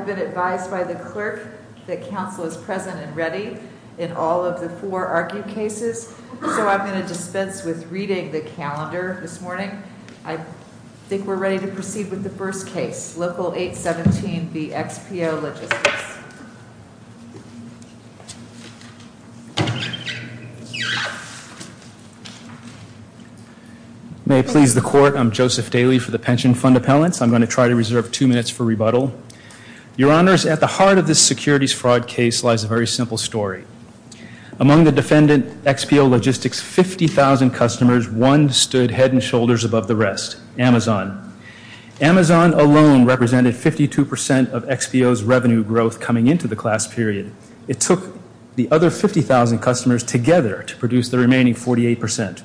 I've been advised by the clerk that council is present and ready in all of the four argued cases. So I'm going to dispense with reading the calendar this morning. I think we're ready to proceed with the first case. Local 817 v. XPO Logistics. May it please the court. I'm Joseph Daly for the Pension Fund Appellants. I'm going to try to reserve two minutes for rebuttal. Your honors, at the heart of this securities fraud case lies a very simple story. Among the defendant, XPO Logistics, 50,000 customers, one stood head and shoulders above the rest. Amazon. Amazon alone represented 52% of XPO's revenue growth coming into the class period. It took the other 50,000 customers together to produce the remaining 48%.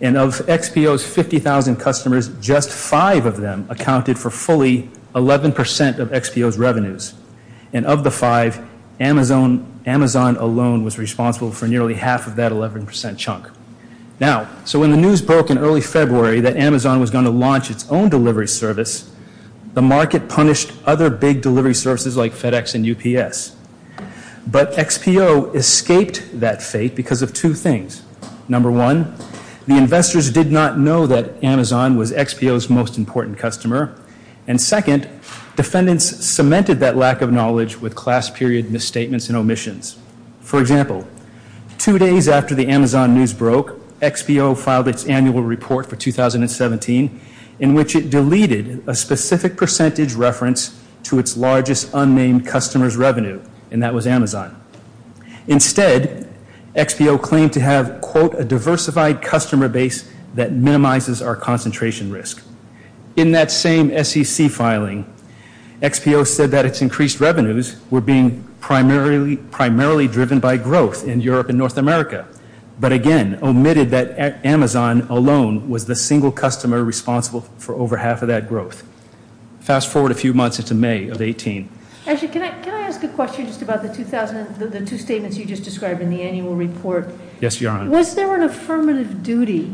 And of XPO's 50,000 customers, just five of them accounted for fully 11% of XPO's revenues. And of the five, Amazon alone was responsible for nearly half of that 11% chunk. Now, so when the news broke in early February that Amazon was going to launch its own delivery service, the market punished other big delivery services like FedEx and UPS. But XPO escaped that fate because of two things. Number one, the investors did not know that Amazon was XPO's most important customer. And second, defendants cemented that lack of knowledge with class period misstatements and omissions. For example, two days after the Amazon news broke, XPO filed its annual report for 2017 in which it deleted a specific percentage reference to its largest unnamed customer's revenue. And that was Amazon. Instead, XPO claimed to have, quote, a diversified customer base that minimizes our concentration risk. In that same SEC filing, XPO said that its increased revenues were being primarily driven by growth in Europe and North America. But again, omitted that Amazon alone was the single customer responsible for over half of that growth. Fast forward a few months into May of 18. Can I ask a question just about the two statements you just described in the annual report? Yes, Your Honor. Was there an affirmative duty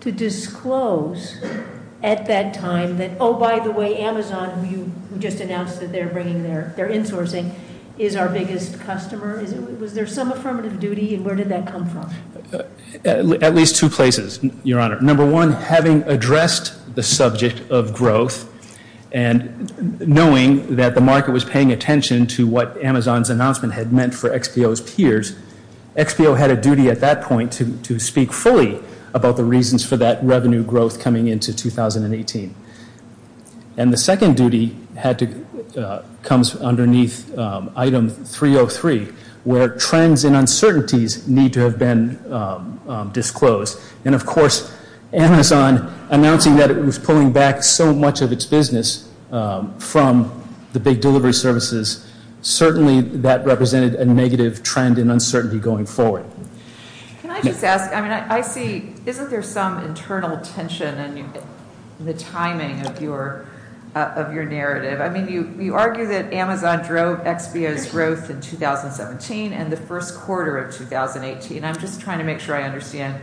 to disclose at that time that, oh, by the way, Amazon, who you just announced that they're bringing their insourcing, is our biggest customer? Was there some affirmative duty? And where did that come from? At least two places, Your Honor. Number one, having addressed the subject of growth and knowing that the market was paying attention to what Amazon's announcement had meant for XPO's peers, XPO had a duty at that point to speak fully about the reasons for that revenue growth coming into 2018. And the second duty comes underneath item 303, where trends and uncertainties need to have been disclosed. And of course, Amazon announcing that it was pulling back so much of its business from the big delivery services, certainly that represented a negative trend in uncertainty going forward. Can I just ask, I mean, I see, isn't there some internal tension in the timing of your narrative? I mean, you argue that Amazon drove XPO's growth in 2017 and the first quarter of 2018. I'm just trying to make sure I understand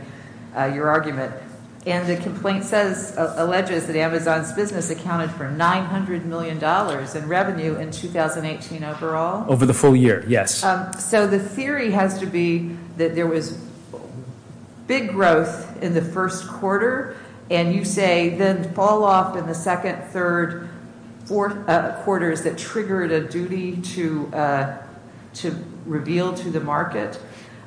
your argument. And the complaint alleges that Amazon's business accounted for $900 million in revenue in 2018 overall? Over the full year, yes. So the theory has to be that there was big growth in the first quarter. And you say then fall off in the second, third, fourth quarters that triggered a duty to reveal to the market.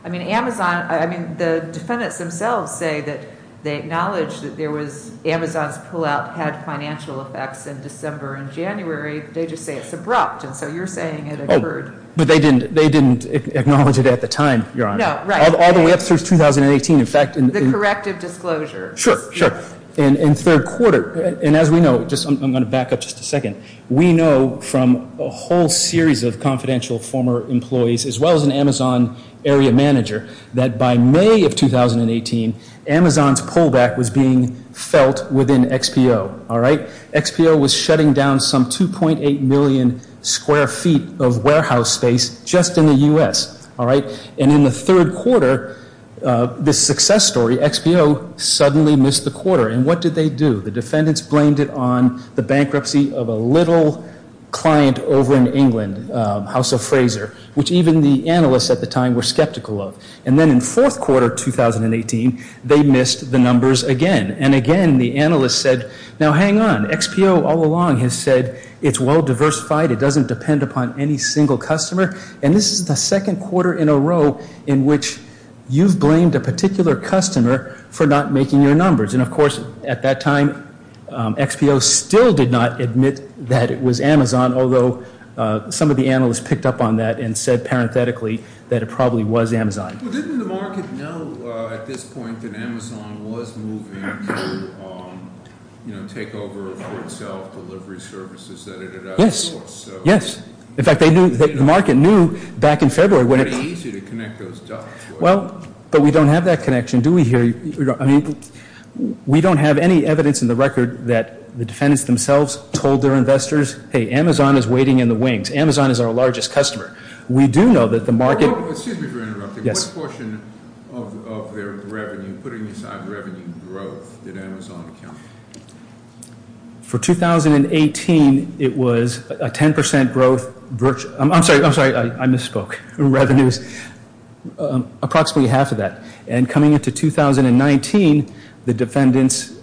I mean, Amazon, I mean, the defendants themselves say that they acknowledge that there was, Amazon's pullout had financial effects in December and January. They just say it's abrupt. And so you're saying it occurred. But they didn't acknowledge it at the time, Your Honor. No, right. All the way up through 2018, in fact. The corrective disclosure. Sure, sure. In third quarter. And as we know, I'm going to back up just a second. We know from a whole series of confidential former employees, as well as an Amazon area manager, that by May of 2018, Amazon's pullback was being felt within XPO. All right. XPO was shutting down some 2.8 million square feet of warehouse space just in the U.S. All right. And in the third quarter, the success story, XPO suddenly missed the quarter. And what did they do? The defendants blamed it on the bankruptcy of a little client over in England, House of Fraser, which even the analysts at the time were skeptical of. And then in fourth quarter 2018, they missed the numbers again. And again, the analysts said, now hang on. XPO all along has said it's well diversified. It doesn't depend upon any single customer. And this is the second quarter in a row in which you've blamed a particular customer for not making your numbers. And of course, at that time, XPO still did not admit that it was Amazon, although some of the analysts picked up on that and said parenthetically that it probably was Amazon. Well, didn't the market know at this point that Amazon was moving to take over for itself delivery services that it had outsourced? Yes. In fact, they knew, the market knew back in February. It's very easy to connect those dots. Well, but we don't have that connection, do we here? I mean, we don't have any evidence in the record that the defendants themselves told their investors, hey, Amazon is waiting in the wings. Amazon is our largest customer. We do know that the market... Excuse me for interrupting. What portion of their revenue, putting aside revenue growth, did Amazon account for? For 2018, it was a 10 percent growth. I'm sorry. I'm sorry. I misspoke. Revenues, approximately half of that. And coming into 2019, the defendants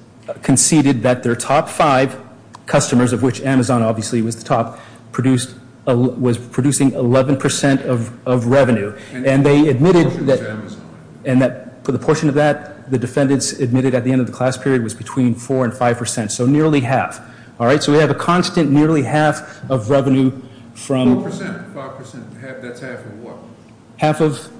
conceded that their top five customers, of which Amazon obviously was the top, was producing 11 percent of revenue. And they admitted that... And that for the portion of that, the defendants admitted at the end of the class period was between 4 and 5 percent. So nearly half. All right. So we have a constant nearly half of revenue from... Four percent. Five percent. That's half of what? Half of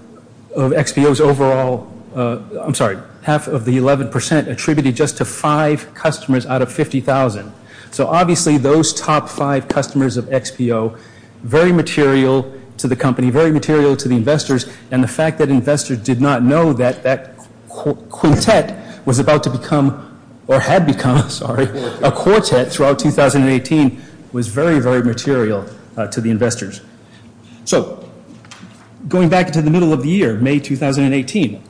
XBO's overall... I'm sorry. Half of the 11 percent attributed just to five customers out of 50,000. So obviously those top five customers of XBO, very material to the company, very material to the investors. And the fact that investors did not know that that quintet was about to become, or had become, sorry, a quartet throughout 2018 was very, very material to the investors. So going back to the middle of the year, May 2018,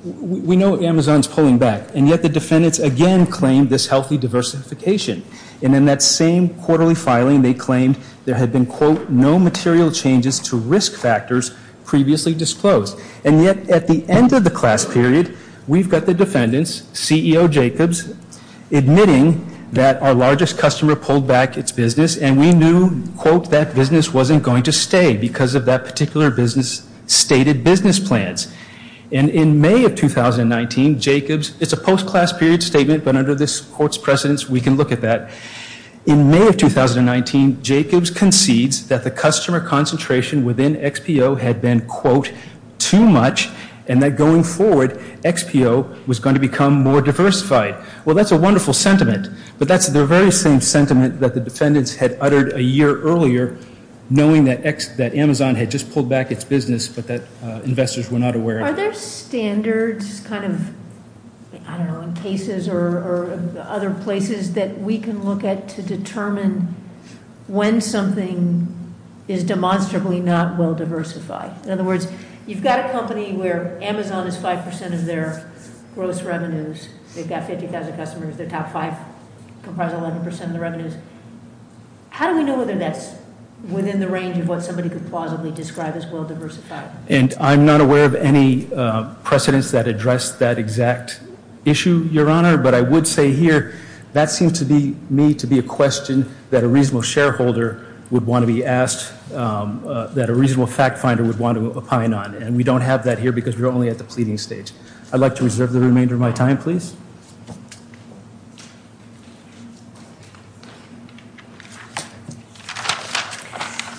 we know Amazon's pulling back. And yet the defendants again claimed this healthy diversification. And in that same quarterly filing, they claimed there had been, quote, no material changes to risk factors previously disclosed. And yet at the end of the class period, we've got the defendants, CEO Jacobs, admitting that our largest customer pulled back its business. And we knew, quote, that business wasn't going to stay because of that particular business stated business plans. And in May of 2019, Jacobs... It's a post-class period statement, but under this court's precedence, we can look at that. In May of 2019, Jacobs concedes that the customer concentration within XBO had been, quote, too much. And that going forward, XBO was going to become more diversified. Well, that's a wonderful sentiment, but that's the very same sentiment that the defendants had uttered a year earlier, knowing that Amazon had just pulled back its business, but that investors were not aware of. Are there standards, kind of, I don't know, in cases or other places that we can look at to determine when something is demonstrably not well diversified? In other words, you've got a company where Amazon is 5% of their gross revenues. They've got 50,000 customers. Their top five comprise 11% of the revenues. How do we know whether that's within the range of what somebody could plausibly describe as well diversified? And I'm not aware of any precedents that address that exact issue, Your Honor, but I would say here that seems to me to be a question that a reasonable shareholder would want to be asked, that a reasonable fact finder would want to opine on. And we don't have that here because we're only at the pleading stage. I'd like to reserve the remainder of my time, please.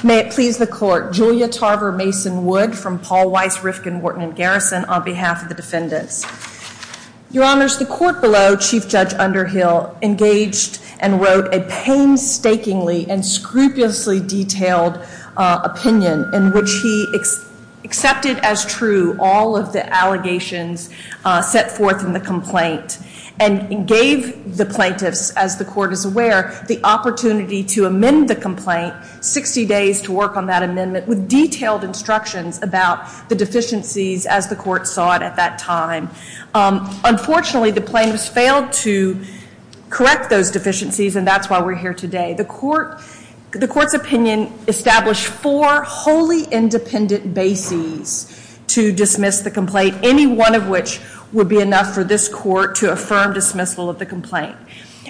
May it please the Court. Julia Tarver Mason Wood from Paul Weiss, Rifkin, Wharton & Garrison on behalf of the defendants. Your Honor, the Court below, Chief Judge Underhill engaged and wrote a painstakingly and scrupulously detailed opinion in which he accepted as true all of the allegations set forth in the complaint and gave the plaintiffs, as the Court is aware, the opportunity to amend the complaint, 60 days to work on that amendment with detailed instructions about the deficiencies as the Court saw it at that time. Unfortunately, the plaintiffs failed to correct those deficiencies and that's why we're here today. The Court's opinion established four wholly independent bases to dismiss the complaint, any one of which would be enough for this Court to affirm dismissal of the complaint.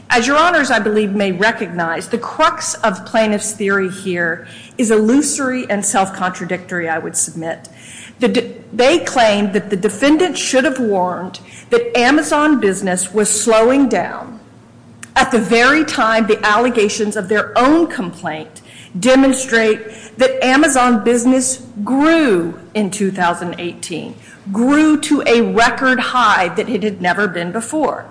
As your Honors, I believe, may recognize, the crux of plaintiffs' theory here is illusory and self-contradictory, I would submit. They claim that the defendants should have warned that Amazon Business was slowing down at the very time the allegations of their own complaint demonstrate that Amazon Business grew in 2018, grew to a record high that it had never been before.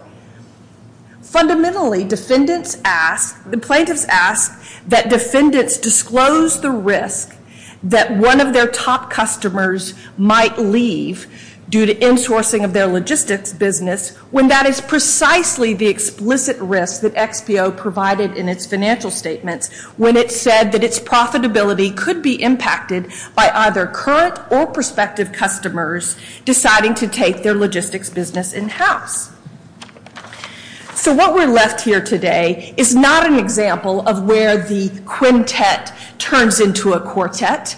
Fundamentally, defendants ask, the plaintiffs ask, that defendants disclose the risk that one of their top customers might leave due to insourcing of their logistics business when that is precisely the explicit risk that XPO provided in its financial statements when it said that its profitability could be impacted by either current or prospective customers deciding to take their logistics business in-house. So what we're left here today is not an example of where the quintet turns into a quartet.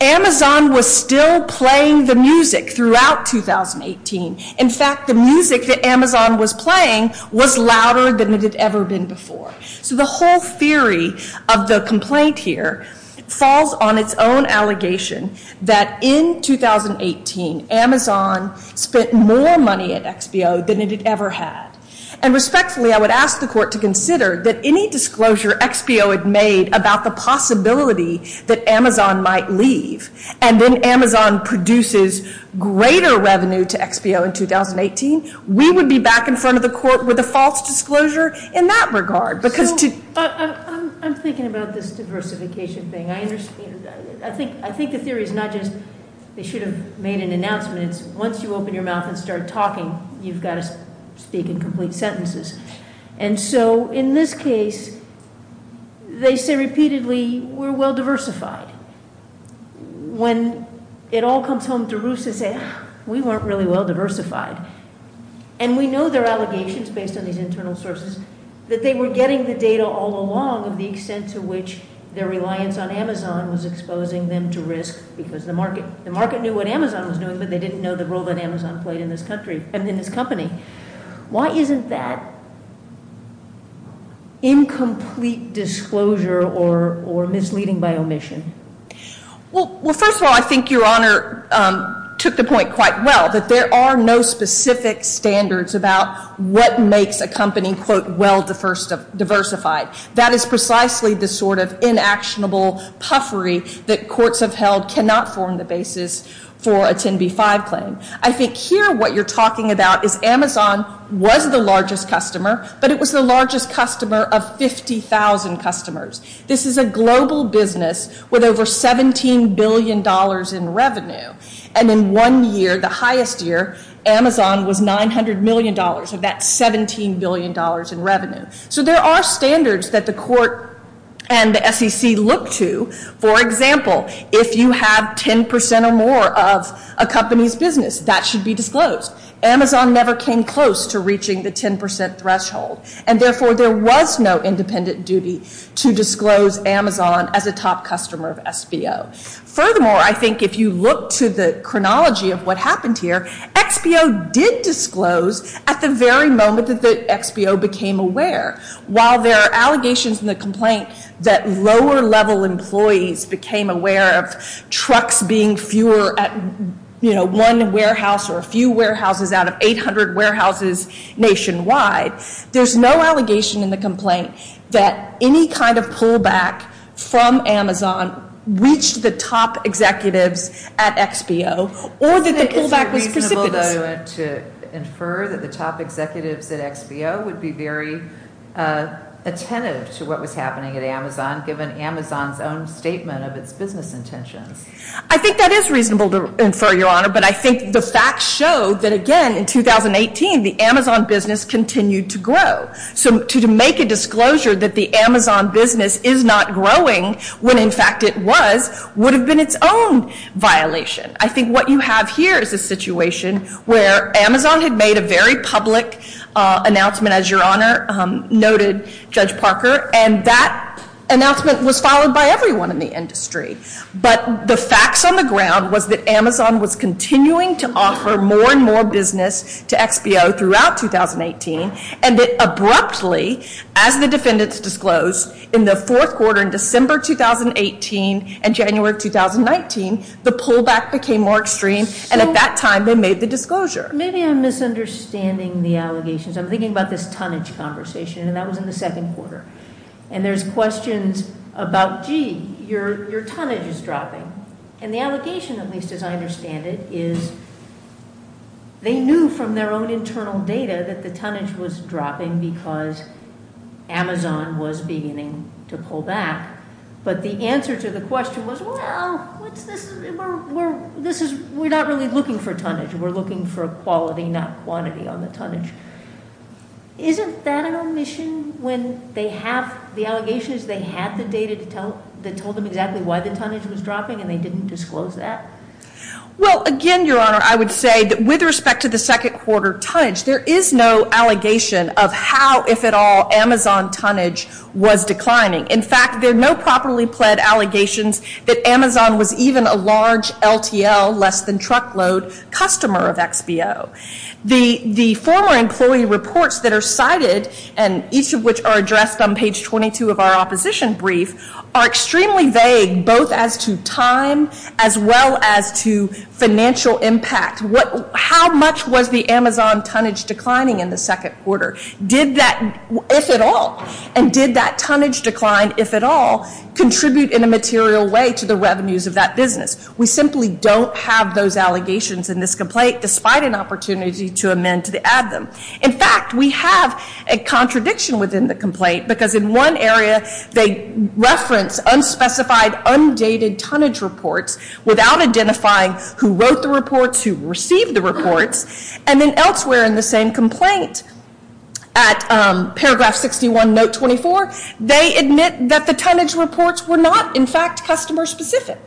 Amazon was still playing the music throughout 2018. In fact, the music that Amazon was playing was louder than it had ever been before. So the whole theory of the complaint here falls on its own allegation that in 2018, Amazon spent more money at XPO than it had ever had. And respectfully, I would ask the Court to consider that any disclosure XPO had made about the possibility that Amazon might leave and then Amazon produces greater revenue to XPO in 2018, we would be back in front of the Court with a false disclosure in that regard. I'm thinking about this diversification thing. I think the theory is not just they should have made an announcement. Once you open your mouth and start talking, you've got to speak in complete sentences. And so in this case, they say repeatedly, we're well diversified. When it all comes home to roost, they say, we weren't really well diversified. And we know their allegations based on these internal sources that they were getting the data all along of the extent to which their reliance on Amazon was exposing them to risk because the market knew what Amazon was doing, but they didn't know the role that Amazon played in this country and in this company. Why isn't that incomplete disclosure or misleading by omission? Well, first of all, I think Your Honor took the point quite well, that there are no specific standards about what makes a company, quote, well diversified. That is precisely the sort of inactionable puffery that courts have held cannot form the basis for a 10B5 claim. I think here what you're talking about is Amazon was the largest customer, but it was the largest customer of 50,000 customers. This is a global business with over $17 billion in revenue. And in one year, the highest year, Amazon was $900 million of that $17 billion in revenue. So there are standards that the court and the SEC look to. For example, if you have 10% or more of a company's business, that should be disclosed. Amazon never came close to reaching the 10% threshold. And therefore, there was no independent duty to disclose Amazon as a top customer of SBO. Furthermore, I think if you look to the chronology of what happened here, XBO did disclose at the very moment that XBO became aware. While there are allegations in the complaint that lower level employees became aware of trucks being fewer at one warehouse or a few warehouses out of 800 warehouses nationwide, there's no allegation in the complaint that any kind of pullback from Amazon reached the top executives at XBO or that the pullback was precipitous. Is it reasonable to infer that the top executives at XBO would be very attentive to what was happening at Amazon given Amazon's statement of its business intentions? I think that is reasonable to infer, Your Honor, but I think the facts show that again in 2018, the Amazon business continued to grow. So to make a disclosure that the Amazon business is not growing when in fact it was, would have been its own violation. I think what you have here is a situation where Amazon had made a very public announcement, as Your Honor noted, Judge Parker, and that announcement was followed by everyone in the industry. But the facts on the ground was that Amazon was continuing to offer more and more business to XBO throughout 2018 and that abruptly, as the defendants disclosed in the fourth quarter in December 2018 and January 2019, the pullback became more extreme, and at that time they made the disclosure. Maybe I'm misunderstanding the allegations. I'm thinking about this tonnage conversation, and that was in the second quarter. And there's questions about gee, your tonnage is dropping. And the allegation, at least as I understand it, is they knew from their own internal data that the tonnage was dropping because Amazon was beginning to pull back. But the answer to the question was, well, this is, we're not really looking for tonnage. We're looking for quality, not quantity on the tonnage. Isn't that an omission when they have, the allegation is they had the data that told them exactly why the tonnage was dropping and they didn't disclose that? Well, again, Your Honor, I would say that with respect to the second quarter tonnage, there is no allegation of how, if at all, Amazon tonnage was declining. In fact, there are no properly pled allegations that Amazon was even a large LTL, less than truckload, customer of XBO. The former employee reports that are cited, and each of which are addressed on page 22 of our opposition brief, are extremely vague, both as to time as well as to financial impact. How much was the Amazon tonnage declining in the second quarter? Did that, if at all, and did that tonnage decline, if at all, contribute in a material way to the revenues of that business? We simply don't have those allegations in this complaint, despite an opportunity to amend to add them. In fact, we have a contradiction within the complaint, because in one area they reference unspecified, undated tonnage reports without identifying who wrote the reports, who received the reports, and then elsewhere in the same complaint, at paragraph 61, note 24, they admit that the tonnage reports were not, in fact, customer specific.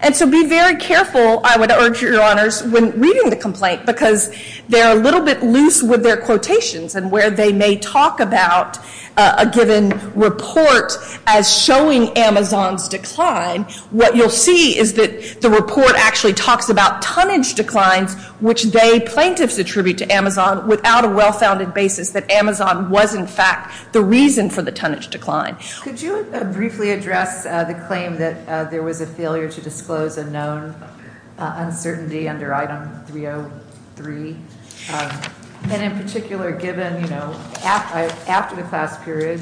And so be very careful, I would urge your honors, when reading the complaint, because they're a little bit loose with their quotations, and where they may talk about a given report as showing Amazon's decline, what you'll see is that the report actually talks about tonnage declines which they, plaintiffs, attribute to Amazon without a well-founded basis that Amazon was, in fact, the reason for the tonnage decline. Could you briefly address the claim that there was a failure to disclose a known uncertainty under item 303? And in particular, given, you know, after the class period,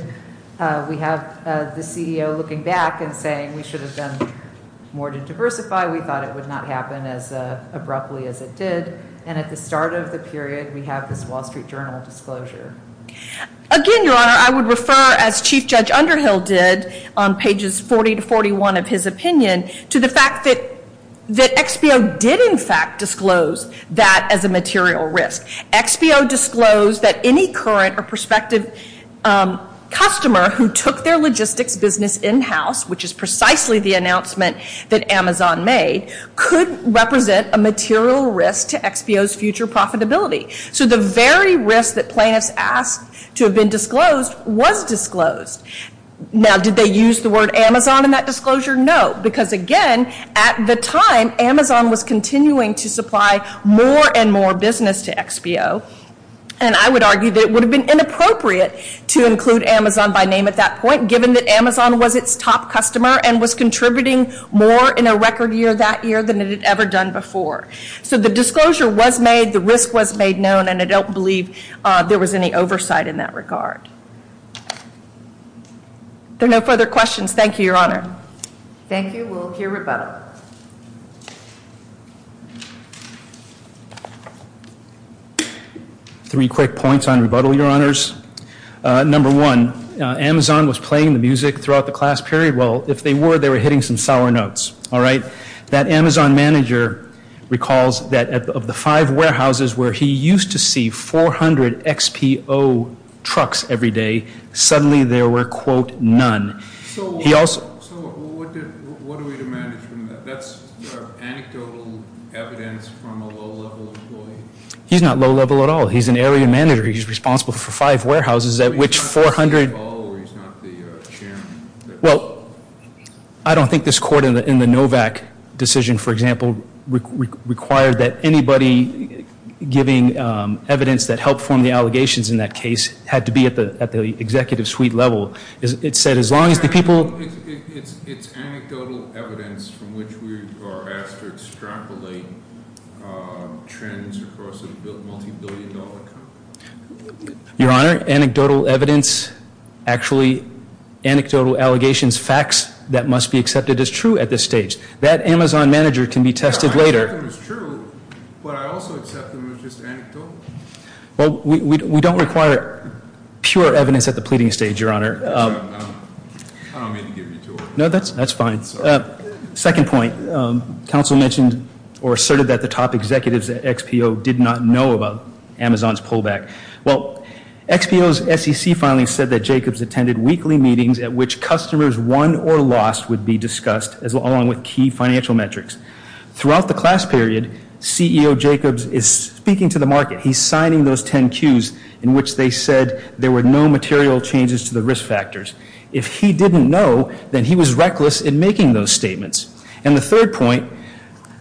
we have the CEO looking back and saying we should have done more to diversify, we thought it would not happen as abruptly as it did, and at the start of the period, we have this Wall Street Journal disclosure. Again, your honor, I would refer, as Chief Judge Underhill did, on pages 40 to 41 of his opinion, to the fact that XBO did, in fact, disclose that as a material risk. XBO disclosed that any current or prospective customer who took their logistics business in-house, which is precisely the announcement that Amazon made, could represent a material risk to XBO's future profitability. So the very risk that plaintiffs asked to have been disclosed was disclosed. Now, did they use the word Amazon in that disclosure? No, because again, at the time, Amazon was continuing to supply more and more business to XBO, and I would argue that it would have been inappropriate to include Amazon by name at that point, given that Amazon was its top customer and was contributing more in a record year that year than it had ever done before. So the disclosure was made, the risk was made known, and I don't believe there was any oversight in that regard. There are no further questions. Thank you, your honor. Thank you. We'll hear rebuttal. Three quick points on rebuttal, your honors. Number one, Amazon was playing the music throughout the class period. Well, if they were, they were hitting some sour notes. That Amazon manager recalls that of the five warehouses where he used to see 400 XBO trucks every day, suddenly there were, quote, none. So what do we demand from that? That's anecdotal evidence from a low-level employee? He's not low-level at all. He's an area manager. He's responsible for five warehouses at which 400 Well, I don't think this court in the NOVAC decision, for example, required that anybody giving evidence that helped form the allegations in that case had to be at the executive suite level. It said as long as the people It's anecdotal evidence from which we are asked to extrapolate trends across a multi-billion dollar company. Your honor, anecdotal evidence, actually anecdotal allegations, facts that must be accepted as true at this stage. That Amazon manager can be tested later. Well, we don't require pure evidence at the pleading stage, your honor. No, that's fine. Second point, counsel mentioned or asserted that the top weekly meetings at which customers won or lost would be discussed along with key financial metrics. Throughout the class period, CEO Jacobs is speaking to the market. He's signing those 10 cues in which they said there were no material changes to the risk factors. If he didn't know, then he was reckless in making those statements. And the third point,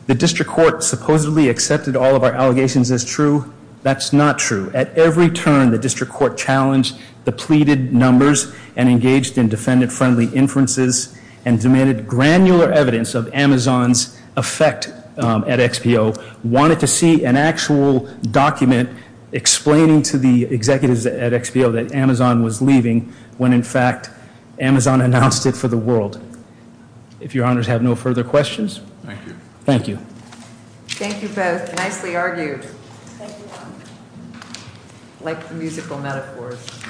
the district court supposedly accepted all of our allegations as true. That's not true. At every turn, the district court challenged the pleaded numbers and engaged in defendant friendly inferences and demanded granular evidence of Amazon's effect at XPO, wanted to see an actual document explaining to the executives at XPO that Amazon was leaving when in fact Amazon announced it for the world. If your honors have no further questions, thank you.